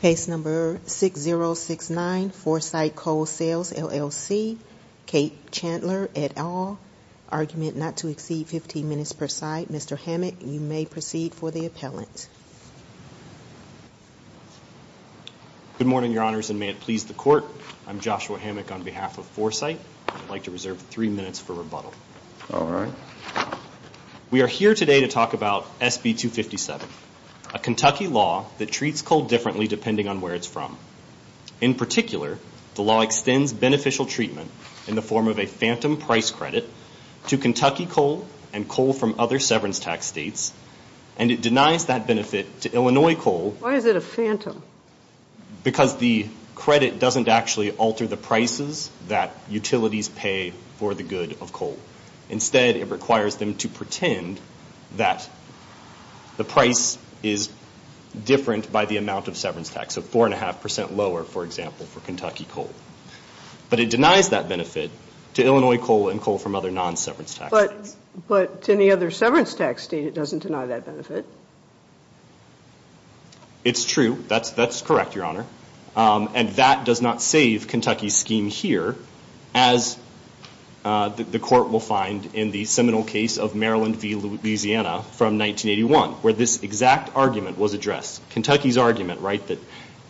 Case number 6069, Foresight Coal Sales LLC, Kate Chandler, et al. Argument not to exceed 15 minutes per site. Mr. Hammock, you may proceed for the appellant. Good morning, Your Honors, and may it please the Court. I'm Joshua Hammock on behalf of Foresight. I'd like to reserve three minutes for rebuttal. All right. We are here today to talk about SB257, a Kentucky law that treats coal differently depending on where it's from. In particular, the law extends beneficial treatment in the form of a phantom price credit to Kentucky coal and coal from other severance tax states, and it denies that benefit to Illinois coal. Why is it a phantom? Because the credit doesn't actually alter the prices that utilities pay for the good of coal. Instead, it requires them to pretend that the price is different by the amount of severance tax, so 4.5% lower, for example, for Kentucky coal. But it denies that benefit to Illinois coal and coal from other non-severance tax states. But to any other severance tax state, it doesn't deny that benefit. It's true. That's correct, Your Honor. And that does not save Kentucky's scheme here, as the court will find in the seminal case of Maryland v. Louisiana from 1981, where this exact argument was addressed. Kentucky's argument, right, that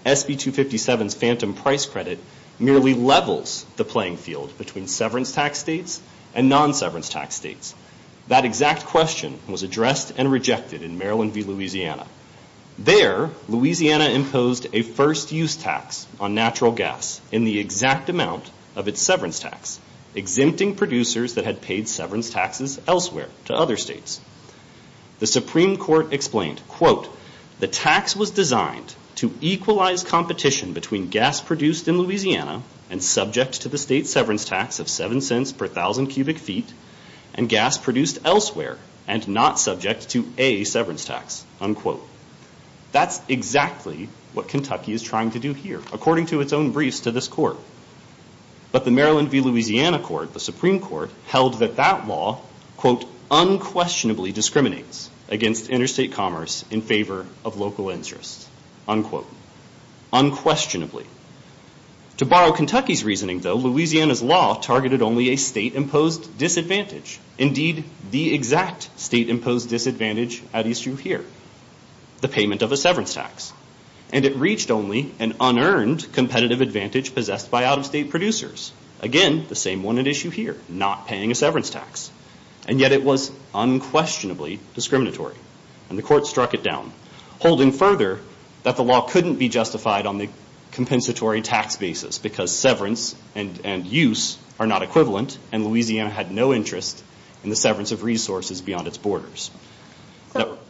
SB257's phantom price credit merely levels the playing field between severance tax states and non-severance tax states. That exact question was addressed and rejected in Maryland v. Louisiana. There, Louisiana imposed a first-use tax on natural gas in the exact amount of its severance tax, exempting producers that had paid severance taxes elsewhere to other states. The Supreme Court explained, quote, The tax was designed to equalize competition between gas produced in Louisiana and subject to the state's severance tax of 7 cents per 1,000 cubic feet and gas produced elsewhere and not subject to a severance tax. Unquote. That's exactly what Kentucky is trying to do here, according to its own briefs to this court. But the Maryland v. Louisiana court, the Supreme Court, held that that law, quote, unquestionably discriminates against interstate commerce in favor of local interests. Unquote. Unquestionably. To borrow Kentucky's reasoning, though, Louisiana's law targeted only a state-imposed disadvantage. Indeed, the exact state-imposed disadvantage at issue here, the payment of a severance tax. And it reached only an unearned competitive advantage possessed by out-of-state producers. Again, the same one at issue here, not paying a severance tax. And yet it was unquestionably discriminatory. And the court struck it down, holding further that the law couldn't be justified on the compensatory tax basis because severance and use are not equivalent, and Louisiana had no interest in the severance of resources beyond its borders.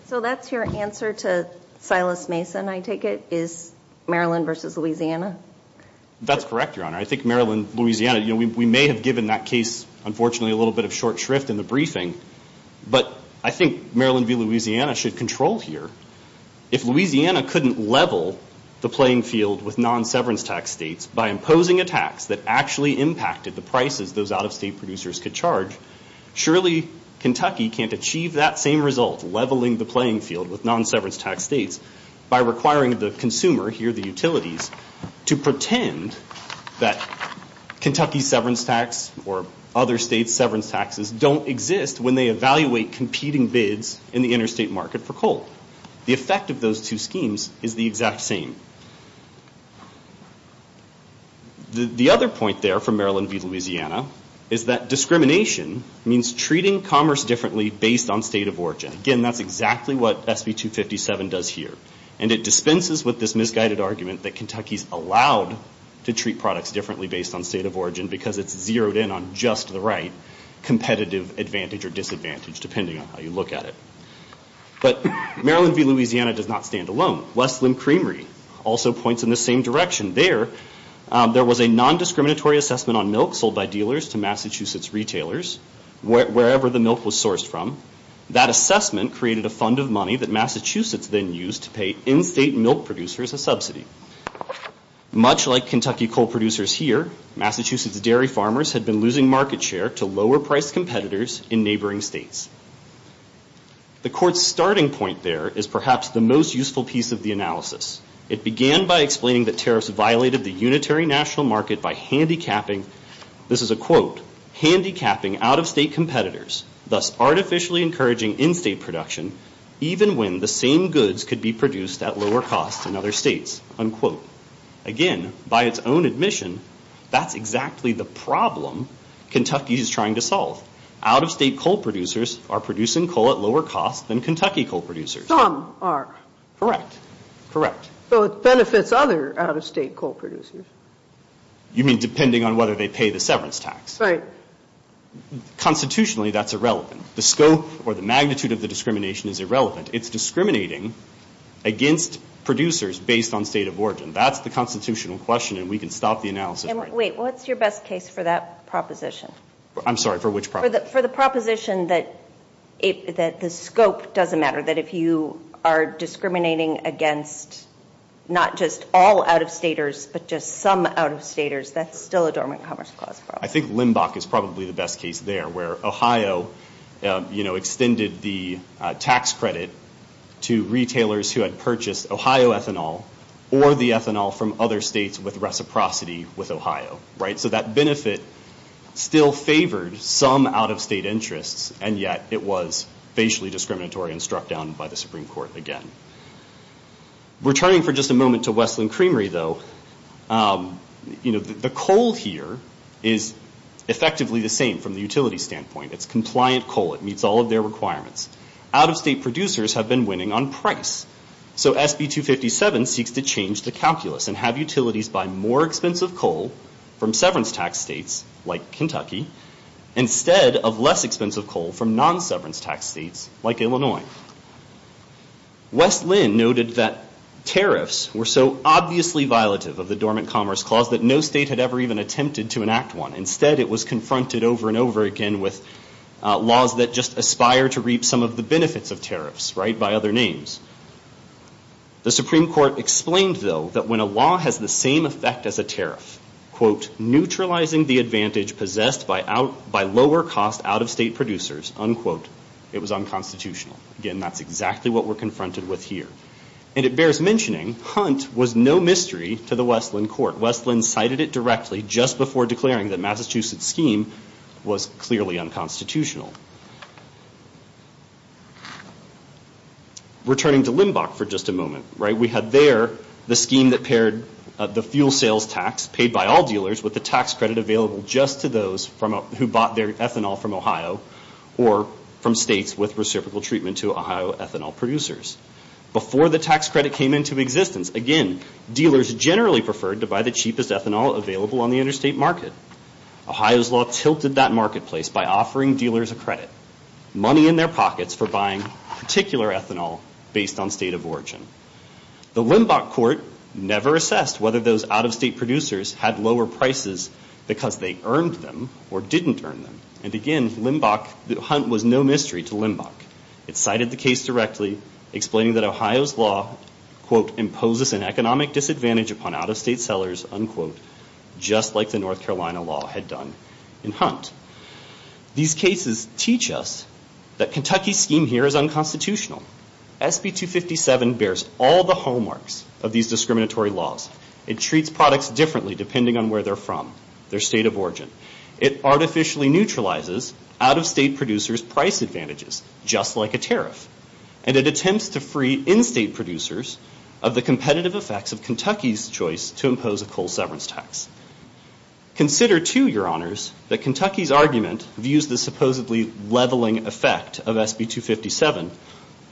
So that's your answer to Silas Mason, I take it, is Maryland v. Louisiana? That's correct, Your Honor. I think Maryland v. Louisiana, you know, we may have given that case, unfortunately, a little bit of short shrift in the briefing. But I think Maryland v. Louisiana should control here. If Louisiana couldn't level the playing field with non-severance tax states by imposing a tax that actually impacted the prices those out-of-state producers could charge, surely Kentucky can't achieve that same result, leveling the playing field with non-severance tax states, by requiring the consumer here, the utilities, to pretend that Kentucky's severance tax or other states' severance taxes don't exist when they evaluate competing bids in the interstate market for coal. The effect of those two schemes is the exact same. The other point there from Maryland v. Louisiana, is that discrimination means treating commerce differently based on state of origin. Again, that's exactly what SB 257 does here. And it dispenses with this misguided argument that Kentucky's allowed to treat products differently based on state of origin because it's zeroed in on just the right competitive advantage or disadvantage, depending on how you look at it. But Maryland v. Louisiana does not stand alone. Westland Creamery also points in the same direction. There, there was a non-discriminatory assessment on milk sold by dealers to Massachusetts retailers, wherever the milk was sourced from. That assessment created a fund of money that Massachusetts then used to pay in-state milk producers a subsidy. Much like Kentucky coal producers here, Massachusetts dairy farmers had been losing market share to lower-priced competitors in neighboring states. The Court's starting point there is perhaps the most useful piece of the analysis. It began by explaining that tariffs violated the unitary national market by handicapping, this is a quote, handicapping out-of-state competitors, thus artificially encouraging in-state production, even when the same goods could be produced at lower costs in other states, unquote. Again, by its own admission, that's exactly the problem Kentucky is trying to solve. Out-of-state coal producers are producing coal at lower costs than Kentucky coal producers. Some are. Correct. Correct. So it benefits other out-of-state coal producers. You mean depending on whether they pay the severance tax. Right. Constitutionally, that's irrelevant. The scope or the magnitude of the discrimination is irrelevant. It's discriminating against producers based on state of origin. That's the constitutional question, and we can stop the analysis. Wait, what's your best case for that proposition? I'm sorry, for which proposition? For the proposition that the scope doesn't matter, that if you are discriminating against not just all out-of-staters, but just some out-of-staters, that's still a dormant commerce clause problem. I think Limbach is probably the best case there, where Ohio extended the tax credit to retailers who had purchased Ohio ethanol or the ethanol from other states with reciprocity with Ohio. So that benefit still favored some out-of-state interests, and yet it was facially discriminatory and struck down by the Supreme Court again. Returning for just a moment to Westland Creamery, though, the coal here is effectively the same from the utility standpoint. It's compliant coal. It meets all of their requirements. Out-of-state producers have been winning on price. So SB 257 seeks to change the calculus and have utilities buy more expensive coal from severance tax states like Kentucky instead of less expensive coal from non-severance tax states like Illinois. Westland noted that tariffs were so obviously violative of the dormant commerce clause that no state had ever even attempted to enact one. Instead, it was confronted over and over again with laws that just aspire to reap some of the benefits of tariffs by other names. The Supreme Court explained, though, that when a law has the same effect as a tariff, quote, neutralizing the advantage possessed by lower-cost out-of-state producers, unquote, it was unconstitutional. Again, that's exactly what we're confronted with here. And it bears mentioning Hunt was no mystery to the Westland court. Westland cited it directly just before declaring that Massachusetts' scheme was clearly unconstitutional. Returning to Limbach for just a moment, right, we had there the scheme that paired the fuel sales tax paid by all dealers with the tax credit available just to those who bought their ethanol from Ohio or from states with reciprocal treatment to Ohio ethanol producers. Before the tax credit came into existence, again, dealers generally preferred to buy the cheapest ethanol available on the interstate market. Money in their pockets for buying particular ethanol based on state of origin. The Limbach court never assessed whether those out-of-state producers had lower prices because they earned them or didn't earn them. And again, Limbach, Hunt was no mystery to Limbach. It cited the case directly, explaining that Ohio's law, quote, imposes an economic disadvantage upon out-of-state sellers, unquote, just like the North Carolina law had done in Hunt. These cases teach us that Kentucky's scheme here is unconstitutional. SB 257 bears all the hallmarks of these discriminatory laws. It treats products differently depending on where they're from, their state of origin. It artificially neutralizes out-of-state producers' price advantages, just like a tariff. And it attempts to free in-state producers of the competitive effects of Kentucky's choice to impose a coal severance tax. Consider, too, Your Honors, that Kentucky's argument views the supposedly leveling effect of SB 257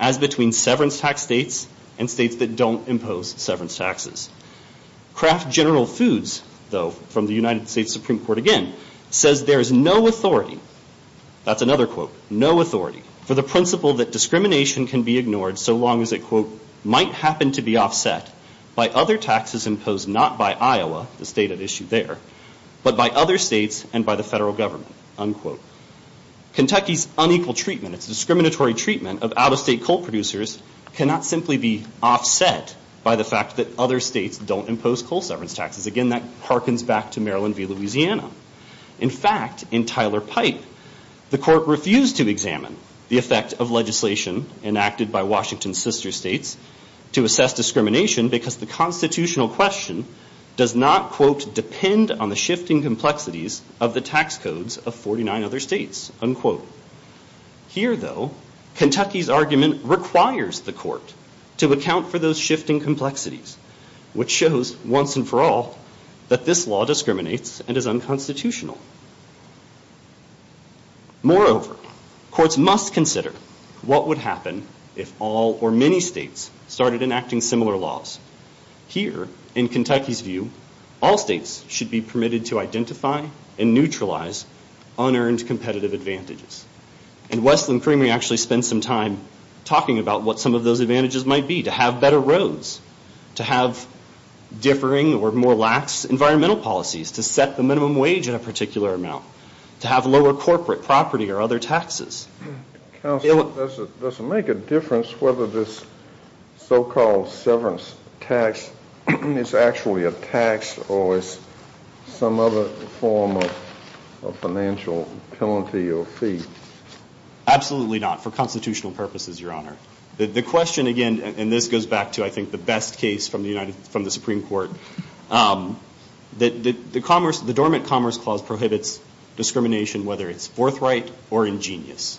as between severance tax states and states that don't impose severance taxes. Kraft General Foods, though, from the United States Supreme Court again, says there is no authority, that's another quote, no authority, for the principle that discrimination can be ignored so long as it, quote, is not by Iowa, the state at issue there, but by other states and by the federal government, unquote. Kentucky's unequal treatment, its discriminatory treatment of out-of-state coal producers cannot simply be offset by the fact that other states don't impose coal severance taxes. Again, that harkens back to Maryland v. Louisiana. In fact, in Tyler Pipe, the court refused to examine the effect of legislation enacted by Washington's sister states to assess discrimination because the constitutional question does not, quote, depend on the shifting complexities of the tax codes of 49 other states, unquote. Here, though, Kentucky's argument requires the court to account for those shifting complexities, which shows once and for all that this law discriminates and is unconstitutional. Moreover, courts must consider what would happen if all or many states started enacting similar laws. Here, in Kentucky's view, all states should be permitted to identify and neutralize unearned competitive advantages. And Westland Creamery actually spent some time talking about what some of those advantages might be, to have better roads, to have differing or more lax environmental policies, to set the minimum wage at a particular amount, to have lower corporate property or other taxes. Counsel, does it make a difference whether this so-called severance tax is actually a tax or is some other form of financial penalty or fee? Absolutely not, for constitutional purposes, Your Honor. The question, again, and this goes back to, I think, the best case from the Supreme Court, that the Dormant Commerce Clause prohibits discrimination, whether it's forthright or ingenious.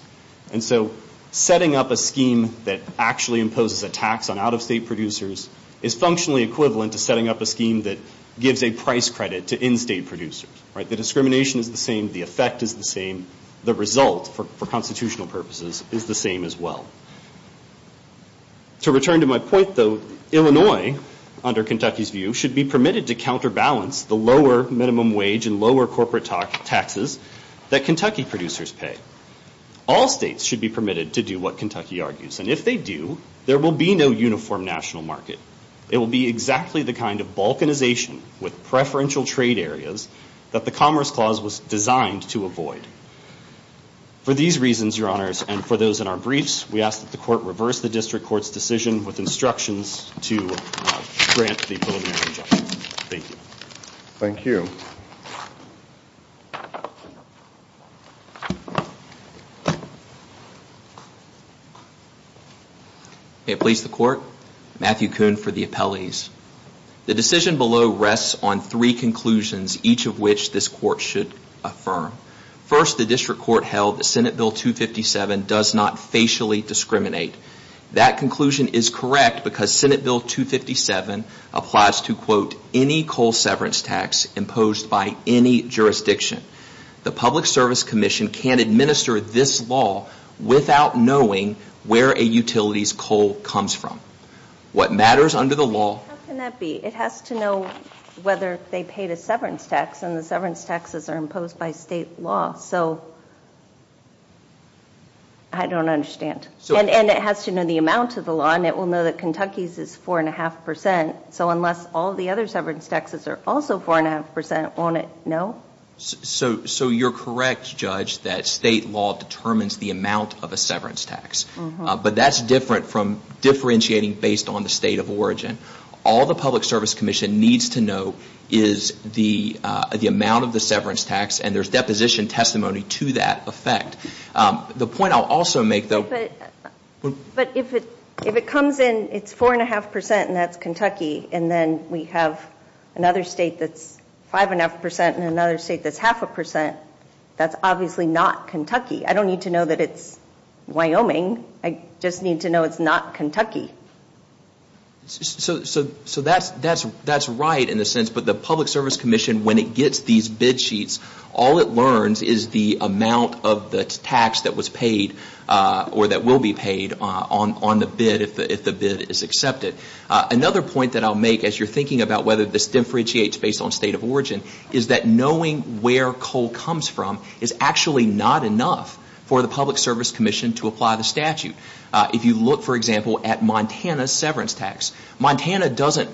And so setting up a scheme that actually imposes a tax on out-of-state producers is functionally equivalent to setting up a scheme that gives a price credit to in-state producers. The discrimination is the same. The effect is the same. The result, for constitutional purposes, is the same as well. To return to my point, though, Illinois, under Kentucky's view, should be permitted to counterbalance the lower minimum wage and lower corporate taxes that Kentucky producers pay. All states should be permitted to do what Kentucky argues. And if they do, there will be no uniform national market. It will be exactly the kind of balkanization with preferential trade areas that the Commerce Clause was designed to avoid. For these reasons, Your Honors, and for those in our briefs, we ask that the Court reverse the District Court's decision with instructions to grant the preliminary judgment. Thank you. Thank you. May it please the Court, Matthew Kuhn for the appellees. The decision below rests on three conclusions, each of which this Court should affirm. First, the District Court held that Senate Bill 257 does not facially discriminate. That conclusion is correct because Senate Bill 257 applies to, quote, any coal severance tax imposed by any jurisdiction. The Public Service Commission can't administer this law without knowing where a utility's coal comes from. What matters under the law... How can that be? It has to know whether they paid a severance tax, and the severance taxes are imposed by state law. So I don't understand. And it has to know the amount of the law, and it will know that Kentucky's is 4.5 percent. So unless all the other severance taxes are also 4.5 percent, won't it know? So you're correct, Judge, that state law determines the amount of a severance tax. But that's different from differentiating based on the state of origin. All the Public Service Commission needs to know is the amount of the severance tax, and there's deposition testimony to that effect. The point I'll also make, though... But if it comes in, it's 4.5 percent and that's Kentucky, and then we have another state that's 5.5 percent and another state that's half a percent, that's obviously not Kentucky. I don't need to know that it's Wyoming. I just need to know it's not Kentucky. So that's right in a sense. But the Public Service Commission, when it gets these bid sheets, all it learns is the amount of the tax that was paid or that will be paid on the bid if the bid is accepted. Another point that I'll make as you're thinking about whether this differentiates based on state of origin is that knowing where coal comes from is actually not enough for the Public Service Commission to apply the statute. If you look, for example, at Montana's severance tax, Montana doesn't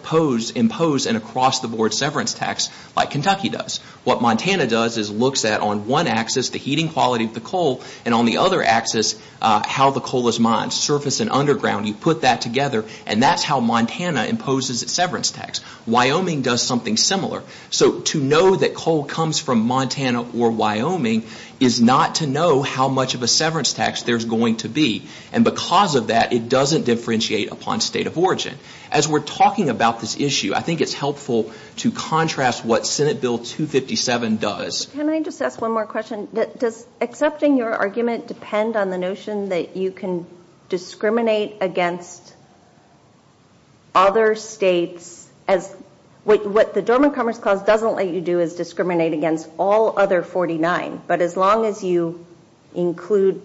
impose an across-the-board severance tax like Kentucky does. What Montana does is looks at on one axis the heating quality of the coal and on the other axis how the coal is mined, surface and underground. You put that together and that's how Montana imposes its severance tax. Wyoming does something similar. So to know that coal comes from Montana or Wyoming is not to know how much of a severance tax there's going to be. And because of that, it doesn't differentiate upon state of origin. As we're talking about this issue, I think it's helpful to contrast what Senate Bill 257 does. Can I just ask one more question? Does accepting your argument depend on the notion that you can discriminate against other states What the Dormant Commerce Clause doesn't let you do is discriminate against all other 49. But as long as you include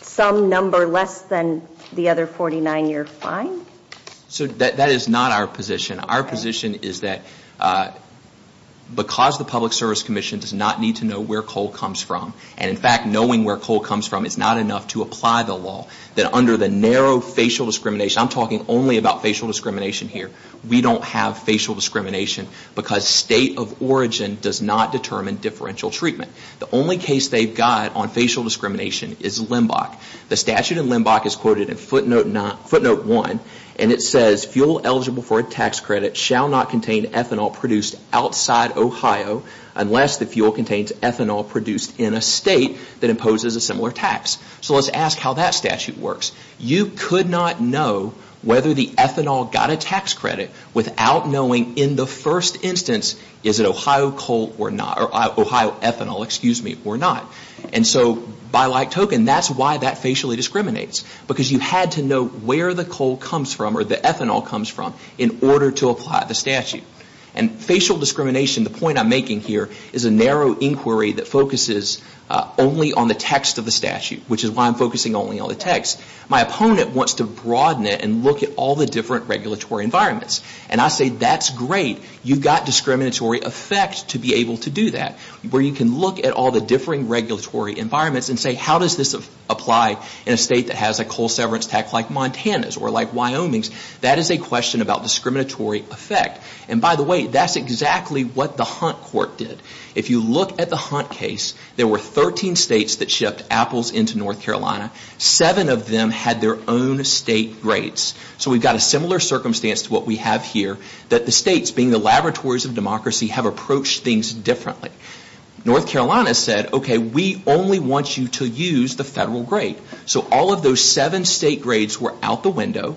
some number less than the other 49, you're fine? So that is not our position. Our position is that because the Public Service Commission does not need to know where coal comes from, and in fact knowing where coal comes from is not enough to apply the law, that under the narrow facial discrimination, I'm talking only about facial discrimination here, we don't have facial discrimination because state of origin does not determine differential treatment. The only case they've got on facial discrimination is LIMBOK. The statute in LIMBOK is quoted in footnote 1, and it says, fuel eligible for a tax credit shall not contain ethanol produced outside Ohio unless the fuel contains ethanol produced in a state that imposes a similar tax. So let's ask how that statute works. You could not know whether the ethanol got a tax credit without knowing in the first instance, is it Ohio coal or not, or Ohio ethanol, excuse me, or not. And so by like token, that's why that facially discriminates, because you had to know where the coal comes from or the ethanol comes from in order to apply the statute. And facial discrimination, the point I'm making here, is a narrow inquiry that focuses only on the text of the statute, which is why I'm focusing only on the text. My opponent wants to broaden it and look at all the different regulatory environments. And I say, that's great. You've got discriminatory effect to be able to do that, where you can look at all the differing regulatory environments and say, how does this apply in a state that has a coal severance tax like Montana's or like Wyoming's? That is a question about discriminatory effect. And by the way, that's exactly what the Hunt court did. If you look at the Hunt case, there were 13 states that shipped apples into North Carolina. Seven of them had their own state grades. So we've got a similar circumstance to what we have here, that the states, being the laboratories of democracy, have approached things differently. North Carolina said, okay, we only want you to use the federal grade. So all of those seven state grades were out the window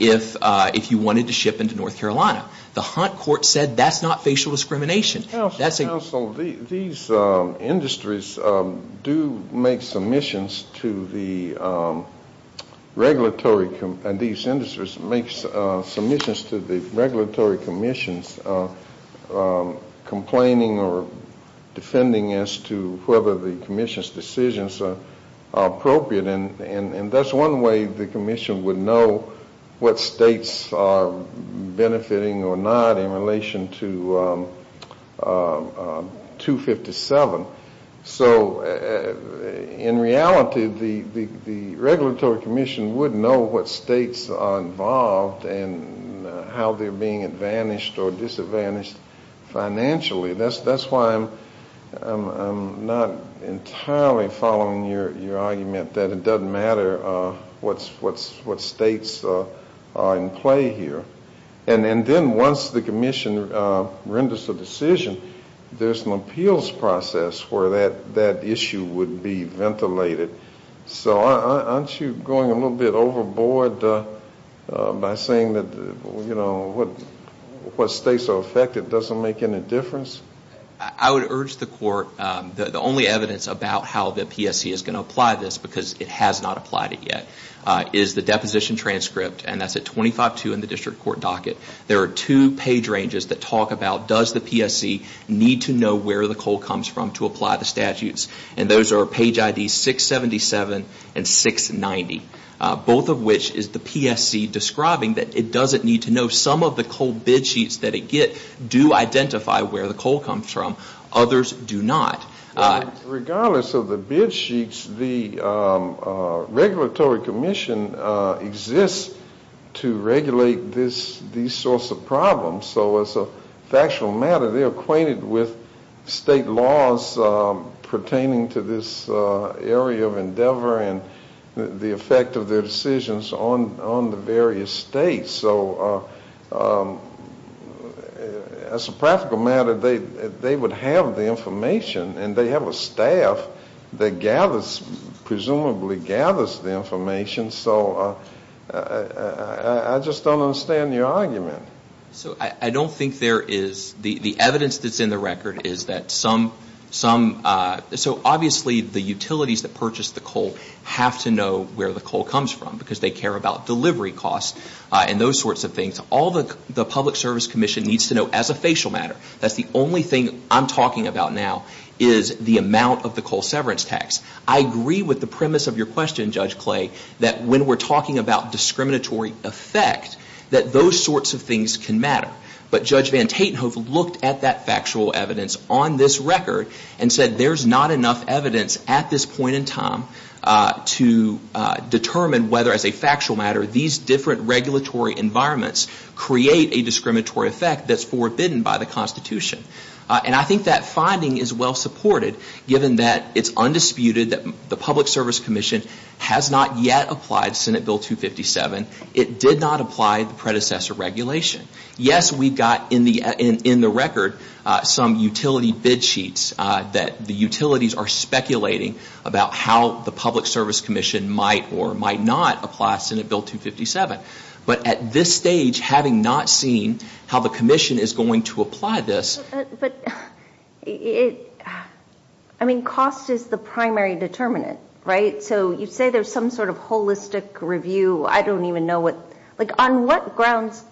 if you wanted to ship into North Carolina. The Hunt court said, that's not facial discrimination. Counsel, these industries do make submissions to the regulatory, and these industries make submissions to the regulatory commissions, complaining or defending as to whether the commission's decisions are appropriate. And that's one way the commission would know what states are benefiting or not in relation to 257. So in reality, the regulatory commission would know what states are involved and how they're being advantaged or disadvantaged financially. That's why I'm not entirely following your argument that it doesn't matter what states are in play here. And then once the commission renders a decision, there's an appeals process where that issue would be ventilated. So aren't you going a little bit overboard by saying that, you know, what states are affected doesn't make any difference? I would urge the court, the only evidence about how the PSC is going to apply this, because it has not applied it yet, is the deposition transcript, and that's at 25.2 in the district court docket. There are two page ranges that talk about does the PSC need to know where the coal comes from to apply the statutes. And those are page IDs 677 and 690, both of which is the PSC describing that it doesn't need to know. Some of the coal bid sheets that it gets do identify where the coal comes from. Others do not. Regardless of the bid sheets, the regulatory commission exists to regulate these sorts of problems. So as a factual matter, they're acquainted with state laws pertaining to this area of endeavor and the effect of their decisions on the various states. So as a practical matter, they would have the information, and they have a staff that gathers, presumably gathers the information. So I just don't understand your argument. So I don't think there is the evidence that's in the record is that some, so obviously the utilities that purchase the coal have to know where the coal comes from, because they care about delivery costs and those sorts of things. All the public service commission needs to know as a facial matter. That's the only thing I'm talking about now is the amount of the coal severance tax. I agree with the premise of your question, Judge Clay, that when we're talking about discriminatory effect, that those sorts of things can matter. But Judge Van Tatenhove looked at that factual evidence on this record and said there's not enough evidence at this point in time to determine whether as a factual matter these different regulatory environments create a discriminatory effect that's forbidden by the Constitution. And I think that finding is well supported, given that it's undisputed that the public service commission has not yet applied Senate Bill 257. It did not apply the predecessor regulation. Yes, we've got in the record some utility bid sheets that the utilities are speculating about how the public service commission might or might not apply Senate Bill 257. But at this stage, having not seen how the commission is going to apply this, But it, I mean, cost is the primary determinant, right? So you say there's some sort of holistic review. I don't even know what, like on what grounds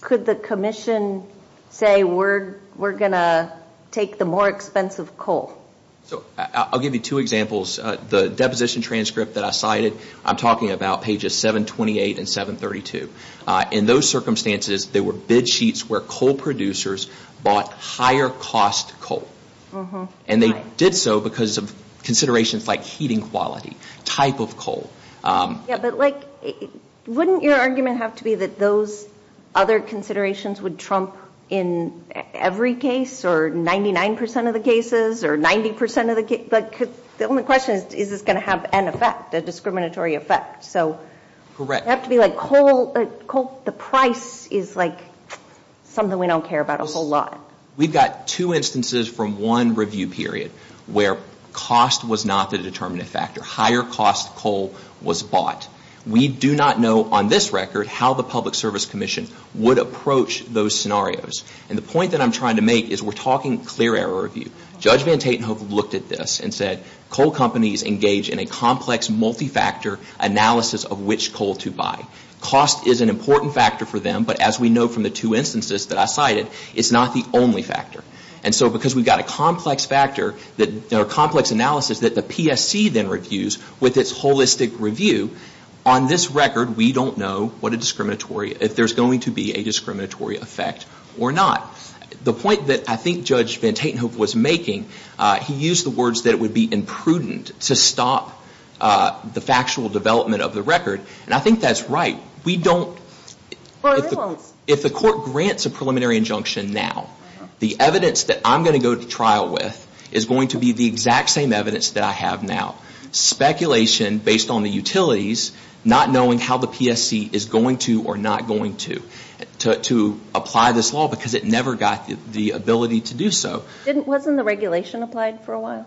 could the commission say we're going to take the more expensive coal? So I'll give you two examples. The deposition transcript that I cited, I'm talking about pages 728 and 732. In those circumstances, there were bid sheets where coal producers bought higher cost coal. And they did so because of considerations like heating quality, type of coal. Yeah, but like wouldn't your argument have to be that those other considerations would trump in every case or 99 percent of the cases or 90 percent of the cases? But the only question is, is this going to have an effect, a discriminatory effect? So it would have to be like coal, the price is like something we don't care about a whole lot. We've got two instances from one review period where cost was not the determinant factor. Higher cost coal was bought. We do not know on this record how the public service commission would approach those scenarios. And the point that I'm trying to make is we're talking clear error review. Judge van Tatenhoek looked at this and said coal companies engage in a complex multi-factor analysis of which coal to buy. Cost is an important factor for them, but as we know from the two instances that I cited, it's not the only factor. And so because we've got a complex factor or complex analysis that the PSC then reviews with its holistic review, on this record we don't know what a discriminatory, if there's going to be a discriminatory effect or not. The point that I think Judge van Tatenhoek was making, he used the words that it would be imprudent to stop the factual development of the record. And I think that's right. We don't, if the court grants a preliminary injunction now, the evidence that I'm going to go to trial with is going to be the exact same evidence that I have now. Speculation based on the utilities, not knowing how the PSC is going to or not going to, to apply this law because it never got the ability to do so. Wasn't the regulation applied for a while?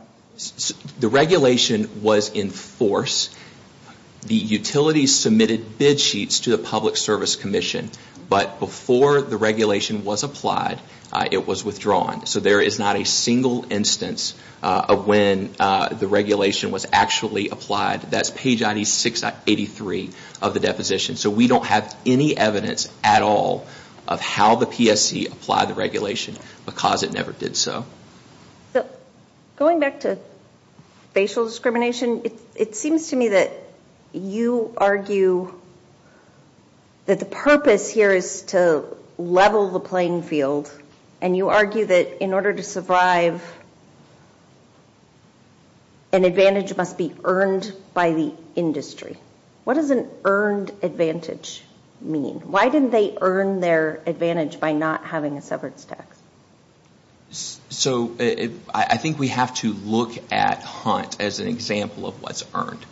The regulation was in force. The utilities submitted bid sheets to the Public Service Commission, but before the regulation was applied, it was withdrawn. So there is not a single instance of when the regulation was actually applied. That's page 8683 of the deposition. So we don't have any evidence at all of how the PSC applied the regulation because it never did so. Going back to facial discrimination, it seems to me that you argue that the purpose here is to level the playing field, and you argue that in order to survive, an advantage must be earned by the industry. What does an earned advantage mean? Why didn't they earn their advantage by not having a severance tax? So I think we have to look at Hunt as an example of what's earned.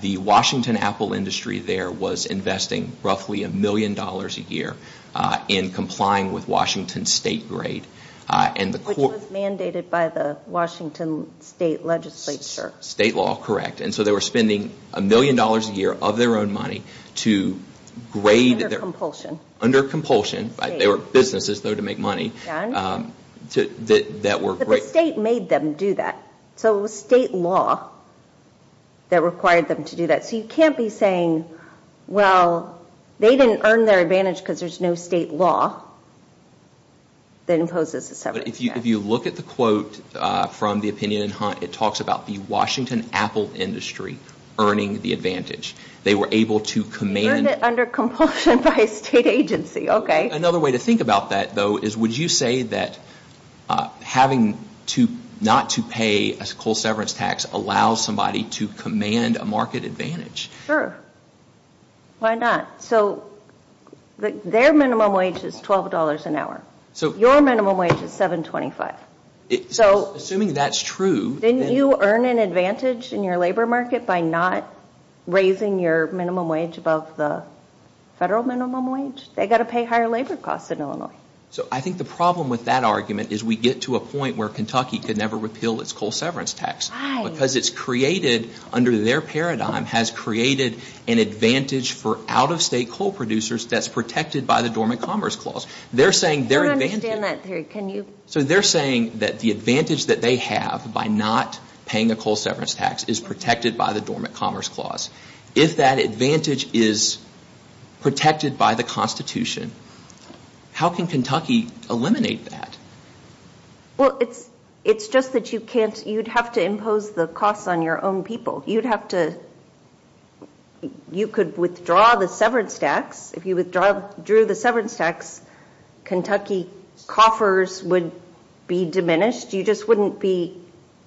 The Washington Apple industry there was investing roughly a million dollars a year in complying with Washington state grade. Which was mandated by the Washington state legislature. State law, correct. And so they were spending a million dollars a year of their own money to grade. Under compulsion. Under compulsion. They were businesses though to make money. But the state made them do that. So it was state law that required them to do that. So you can't be saying, well, they didn't earn their advantage because there's no state law that imposes a severance tax. If you look at the quote from the opinion in Hunt, it talks about the Washington Apple industry earning the advantage. They were able to command. Earned it under compulsion by a state agency. Okay. Another way to think about that though is would you say that having not to pay a coal severance tax allows somebody to command a market advantage? Sure. Why not? So their minimum wage is $12 an hour. Your minimum wage is $7.25. Assuming that's true. Didn't you earn an advantage in your labor market by not raising your minimum wage above the federal minimum wage? They've got to pay higher labor costs in Illinois. So I think the problem with that argument is we get to a point where Kentucky could never repeal its coal severance tax. Why? Because it's created under their paradigm has created an advantage for out-of-state coal producers that's protected by the Dormant Commerce Clause. They're saying their advantage. I don't understand that theory. Can you? So they're saying that the advantage that they have by not paying a coal severance tax is protected by the Dormant Commerce Clause. If that advantage is protected by the Constitution, how can Kentucky eliminate that? Well, it's just that you'd have to impose the costs on your own people. You'd have to – you could withdraw the severance tax. If you withdrew the severance tax, Kentucky coffers would be diminished. You just wouldn't be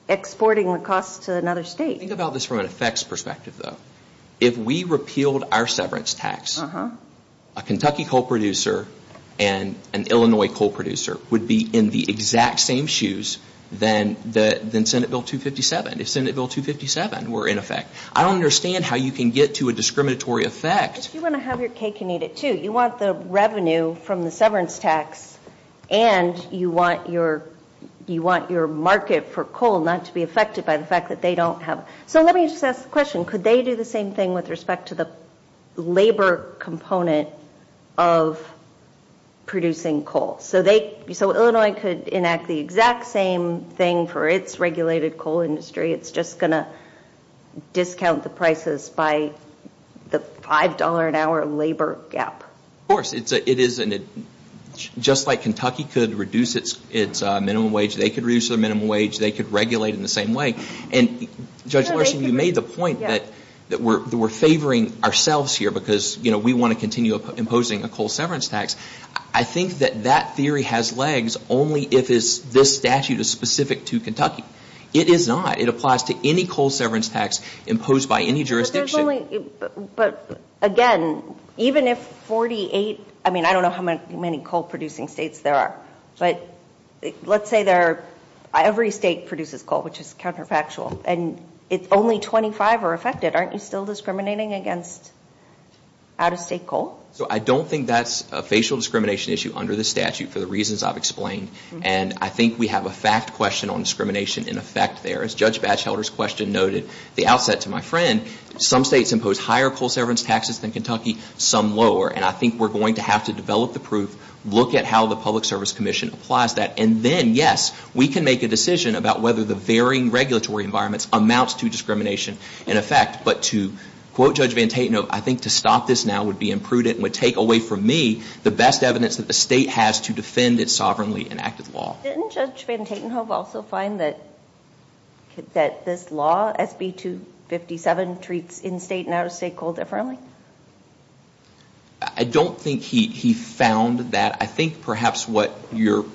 exporting the costs to another state. Think about this from an effects perspective, though. If we repealed our severance tax, a Kentucky coal producer and an Illinois coal producer would be in the exact same shoes than Senate Bill 257, if Senate Bill 257 were in effect. I don't understand how you can get to a discriminatory effect. If you want to have your cake and eat it, too, you want the revenue from the severance tax and you want your market for coal not to be affected by the fact that they don't have – so let me just ask the question. Could they do the same thing with respect to the labor component of producing coal? So Illinois could enact the exact same thing for its regulated coal industry. It's just going to discount the prices by the $5 an hour labor gap. Of course. It is – just like Kentucky could reduce its minimum wage, they could reduce their minimum wage, they could regulate in the same way. And Judge Larson, you made the point that we're favoring ourselves here because we want to continue imposing a coal severance tax. I think that that theory has legs only if this statute is specific to Kentucky. It is not. It applies to any coal severance tax imposed by any jurisdiction. But there's only – but, again, even if 48 – I mean, I don't know how many coal-producing states there are. But let's say there are – every state produces coal, which is counterfactual. And if only 25 are affected, aren't you still discriminating against out-of-state coal? So I don't think that's a facial discrimination issue under this statute for the reasons I've explained. And I think we have a fact question on discrimination in effect there. As Judge Batchelder's question noted at the outset to my friend, some states impose higher coal severance taxes than Kentucky, some lower. And I think we're going to have to develop the proof, look at how the Public Service Commission applies that, and then, yes, we can make a decision about whether the varying regulatory environments amounts to discrimination in effect. But to quote Judge Van Tate, no, I think to stop this now would be imprudent and would take away from me the best evidence that the state has to defend its sovereignly enacted law. Didn't Judge Van Tatenhove also find that this law, SB 257, treats in-state and out-of-state coal differently? I don't think he found that. I think perhaps what you're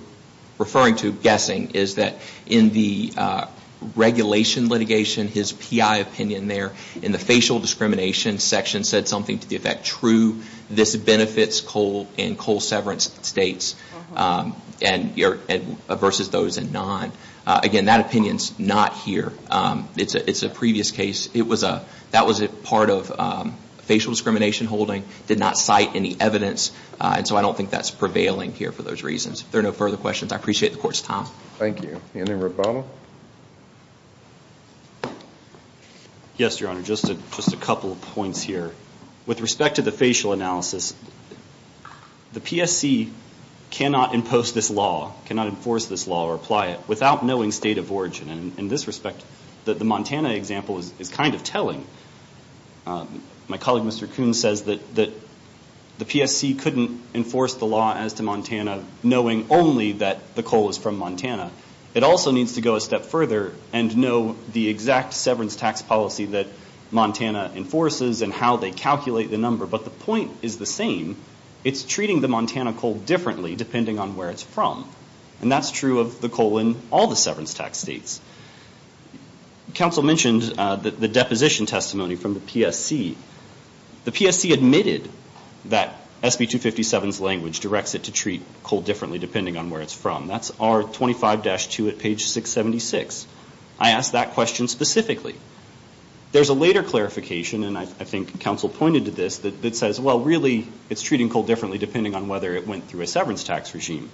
referring to, guessing, is that in the regulation litigation, his PI opinion there in the facial discrimination section said something to the effect, true, this benefits coal and coal severance states versus those in non. Again, that opinion's not here. It's a previous case. That was a part of facial discrimination holding, did not cite any evidence, and so I don't think that's prevailing here for those reasons. If there are no further questions, I appreciate the Court's time. Thank you. Any rebuttal? Yes, Your Honor, just a couple of points here. With respect to the facial analysis, the PSC cannot impose this law, cannot enforce this law or apply it without knowing state of origin. In this respect, the Montana example is kind of telling. My colleague, Mr. Kuhn, says that the PSC couldn't enforce the law as to Montana knowing only that the coal is from Montana. It also needs to go a step further and know the exact severance tax policy that Montana enforces and how they calculate the number. But the point is the same. It's treating the Montana coal differently depending on where it's from, and that's true of the coal in all the severance tax states. Counsel mentioned the deposition testimony from the PSC. The PSC admitted that SB 257's language directs it to treat coal differently depending on where it's from. That's R25-2 at page 676. I asked that question specifically. There's a later clarification, and I think counsel pointed to this, that says, well, really it's treating coal differently depending on whether it went through a severance tax regime.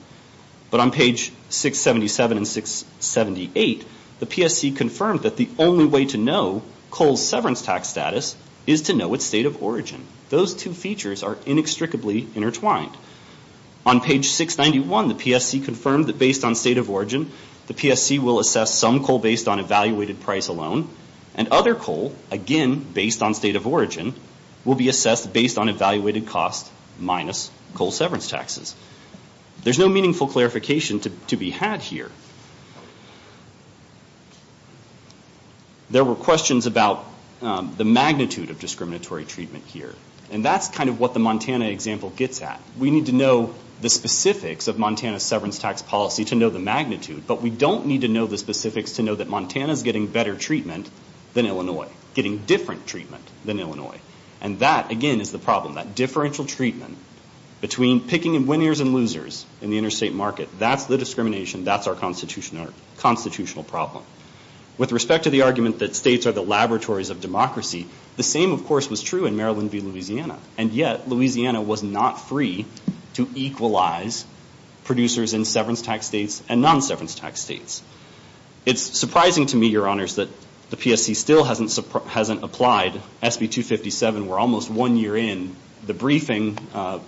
But on page 677 and 678, the PSC confirmed that the only way to know coal's severance tax status is to know its state of origin. Those two features are inextricably intertwined. On page 691, the PSC confirmed that based on state of origin, the PSC will assess some coal based on evaluated price alone, and other coal, again, based on state of origin, will be assessed based on evaluated cost minus coal severance taxes. There's no meaningful clarification to be had here. There were questions about the magnitude of discriminatory treatment here. And that's kind of what the Montana example gets at. We need to know the specifics of Montana's severance tax policy to know the magnitude, but we don't need to know the specifics to know that Montana's getting better treatment than Illinois, getting different treatment than Illinois. And that, again, is the problem. That differential treatment between picking winners and losers in the interstate market, that's the discrimination, that's our constitutional problem. With respect to the argument that states are the laboratories of democracy, the same, of course, was true in Maryland v. Louisiana. And yet, Louisiana was not free to equalize producers in severance tax states and non-severance tax states. It's surprising to me, Your Honors, that the PSC still hasn't applied. SB 257, we're almost one year in. The briefing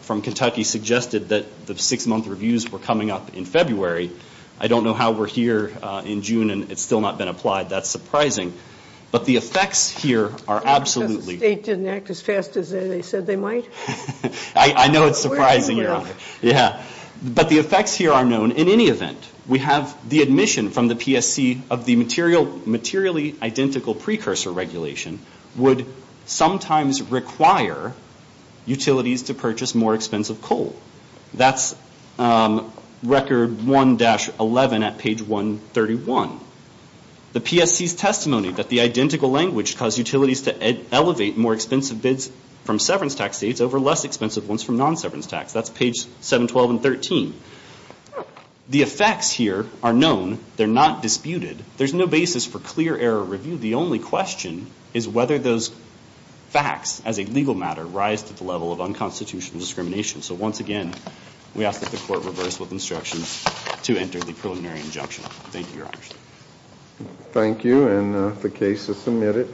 from Kentucky suggested that the six-month reviews were coming up in February. I don't know how we're here in June and it's still not been applied. That's surprising. But the effects here are absolutely. Because the state didn't act as fast as they said they might? I know it's surprising, Your Honor. Yeah. But the effects here are known. In any event, we have the admission from the PSC of the materially identical precursor regulation would sometimes require utilities to purchase more expensive coal. That's Record 1-11 at page 131. The PSC's testimony that the identical language caused utilities to elevate more expensive bids from severance tax states over less expensive ones from non-severance tax. That's page 712 and 13. The effects here are known. They're not disputed. There's no basis for clear error review. The only question is whether those facts as a legal matter rise to the level of unconstitutional discrimination. So once again, we ask that the court reverse with instructions to enter the preliminary injunction. Thank you, Your Honor. Thank you. And the case is submitted.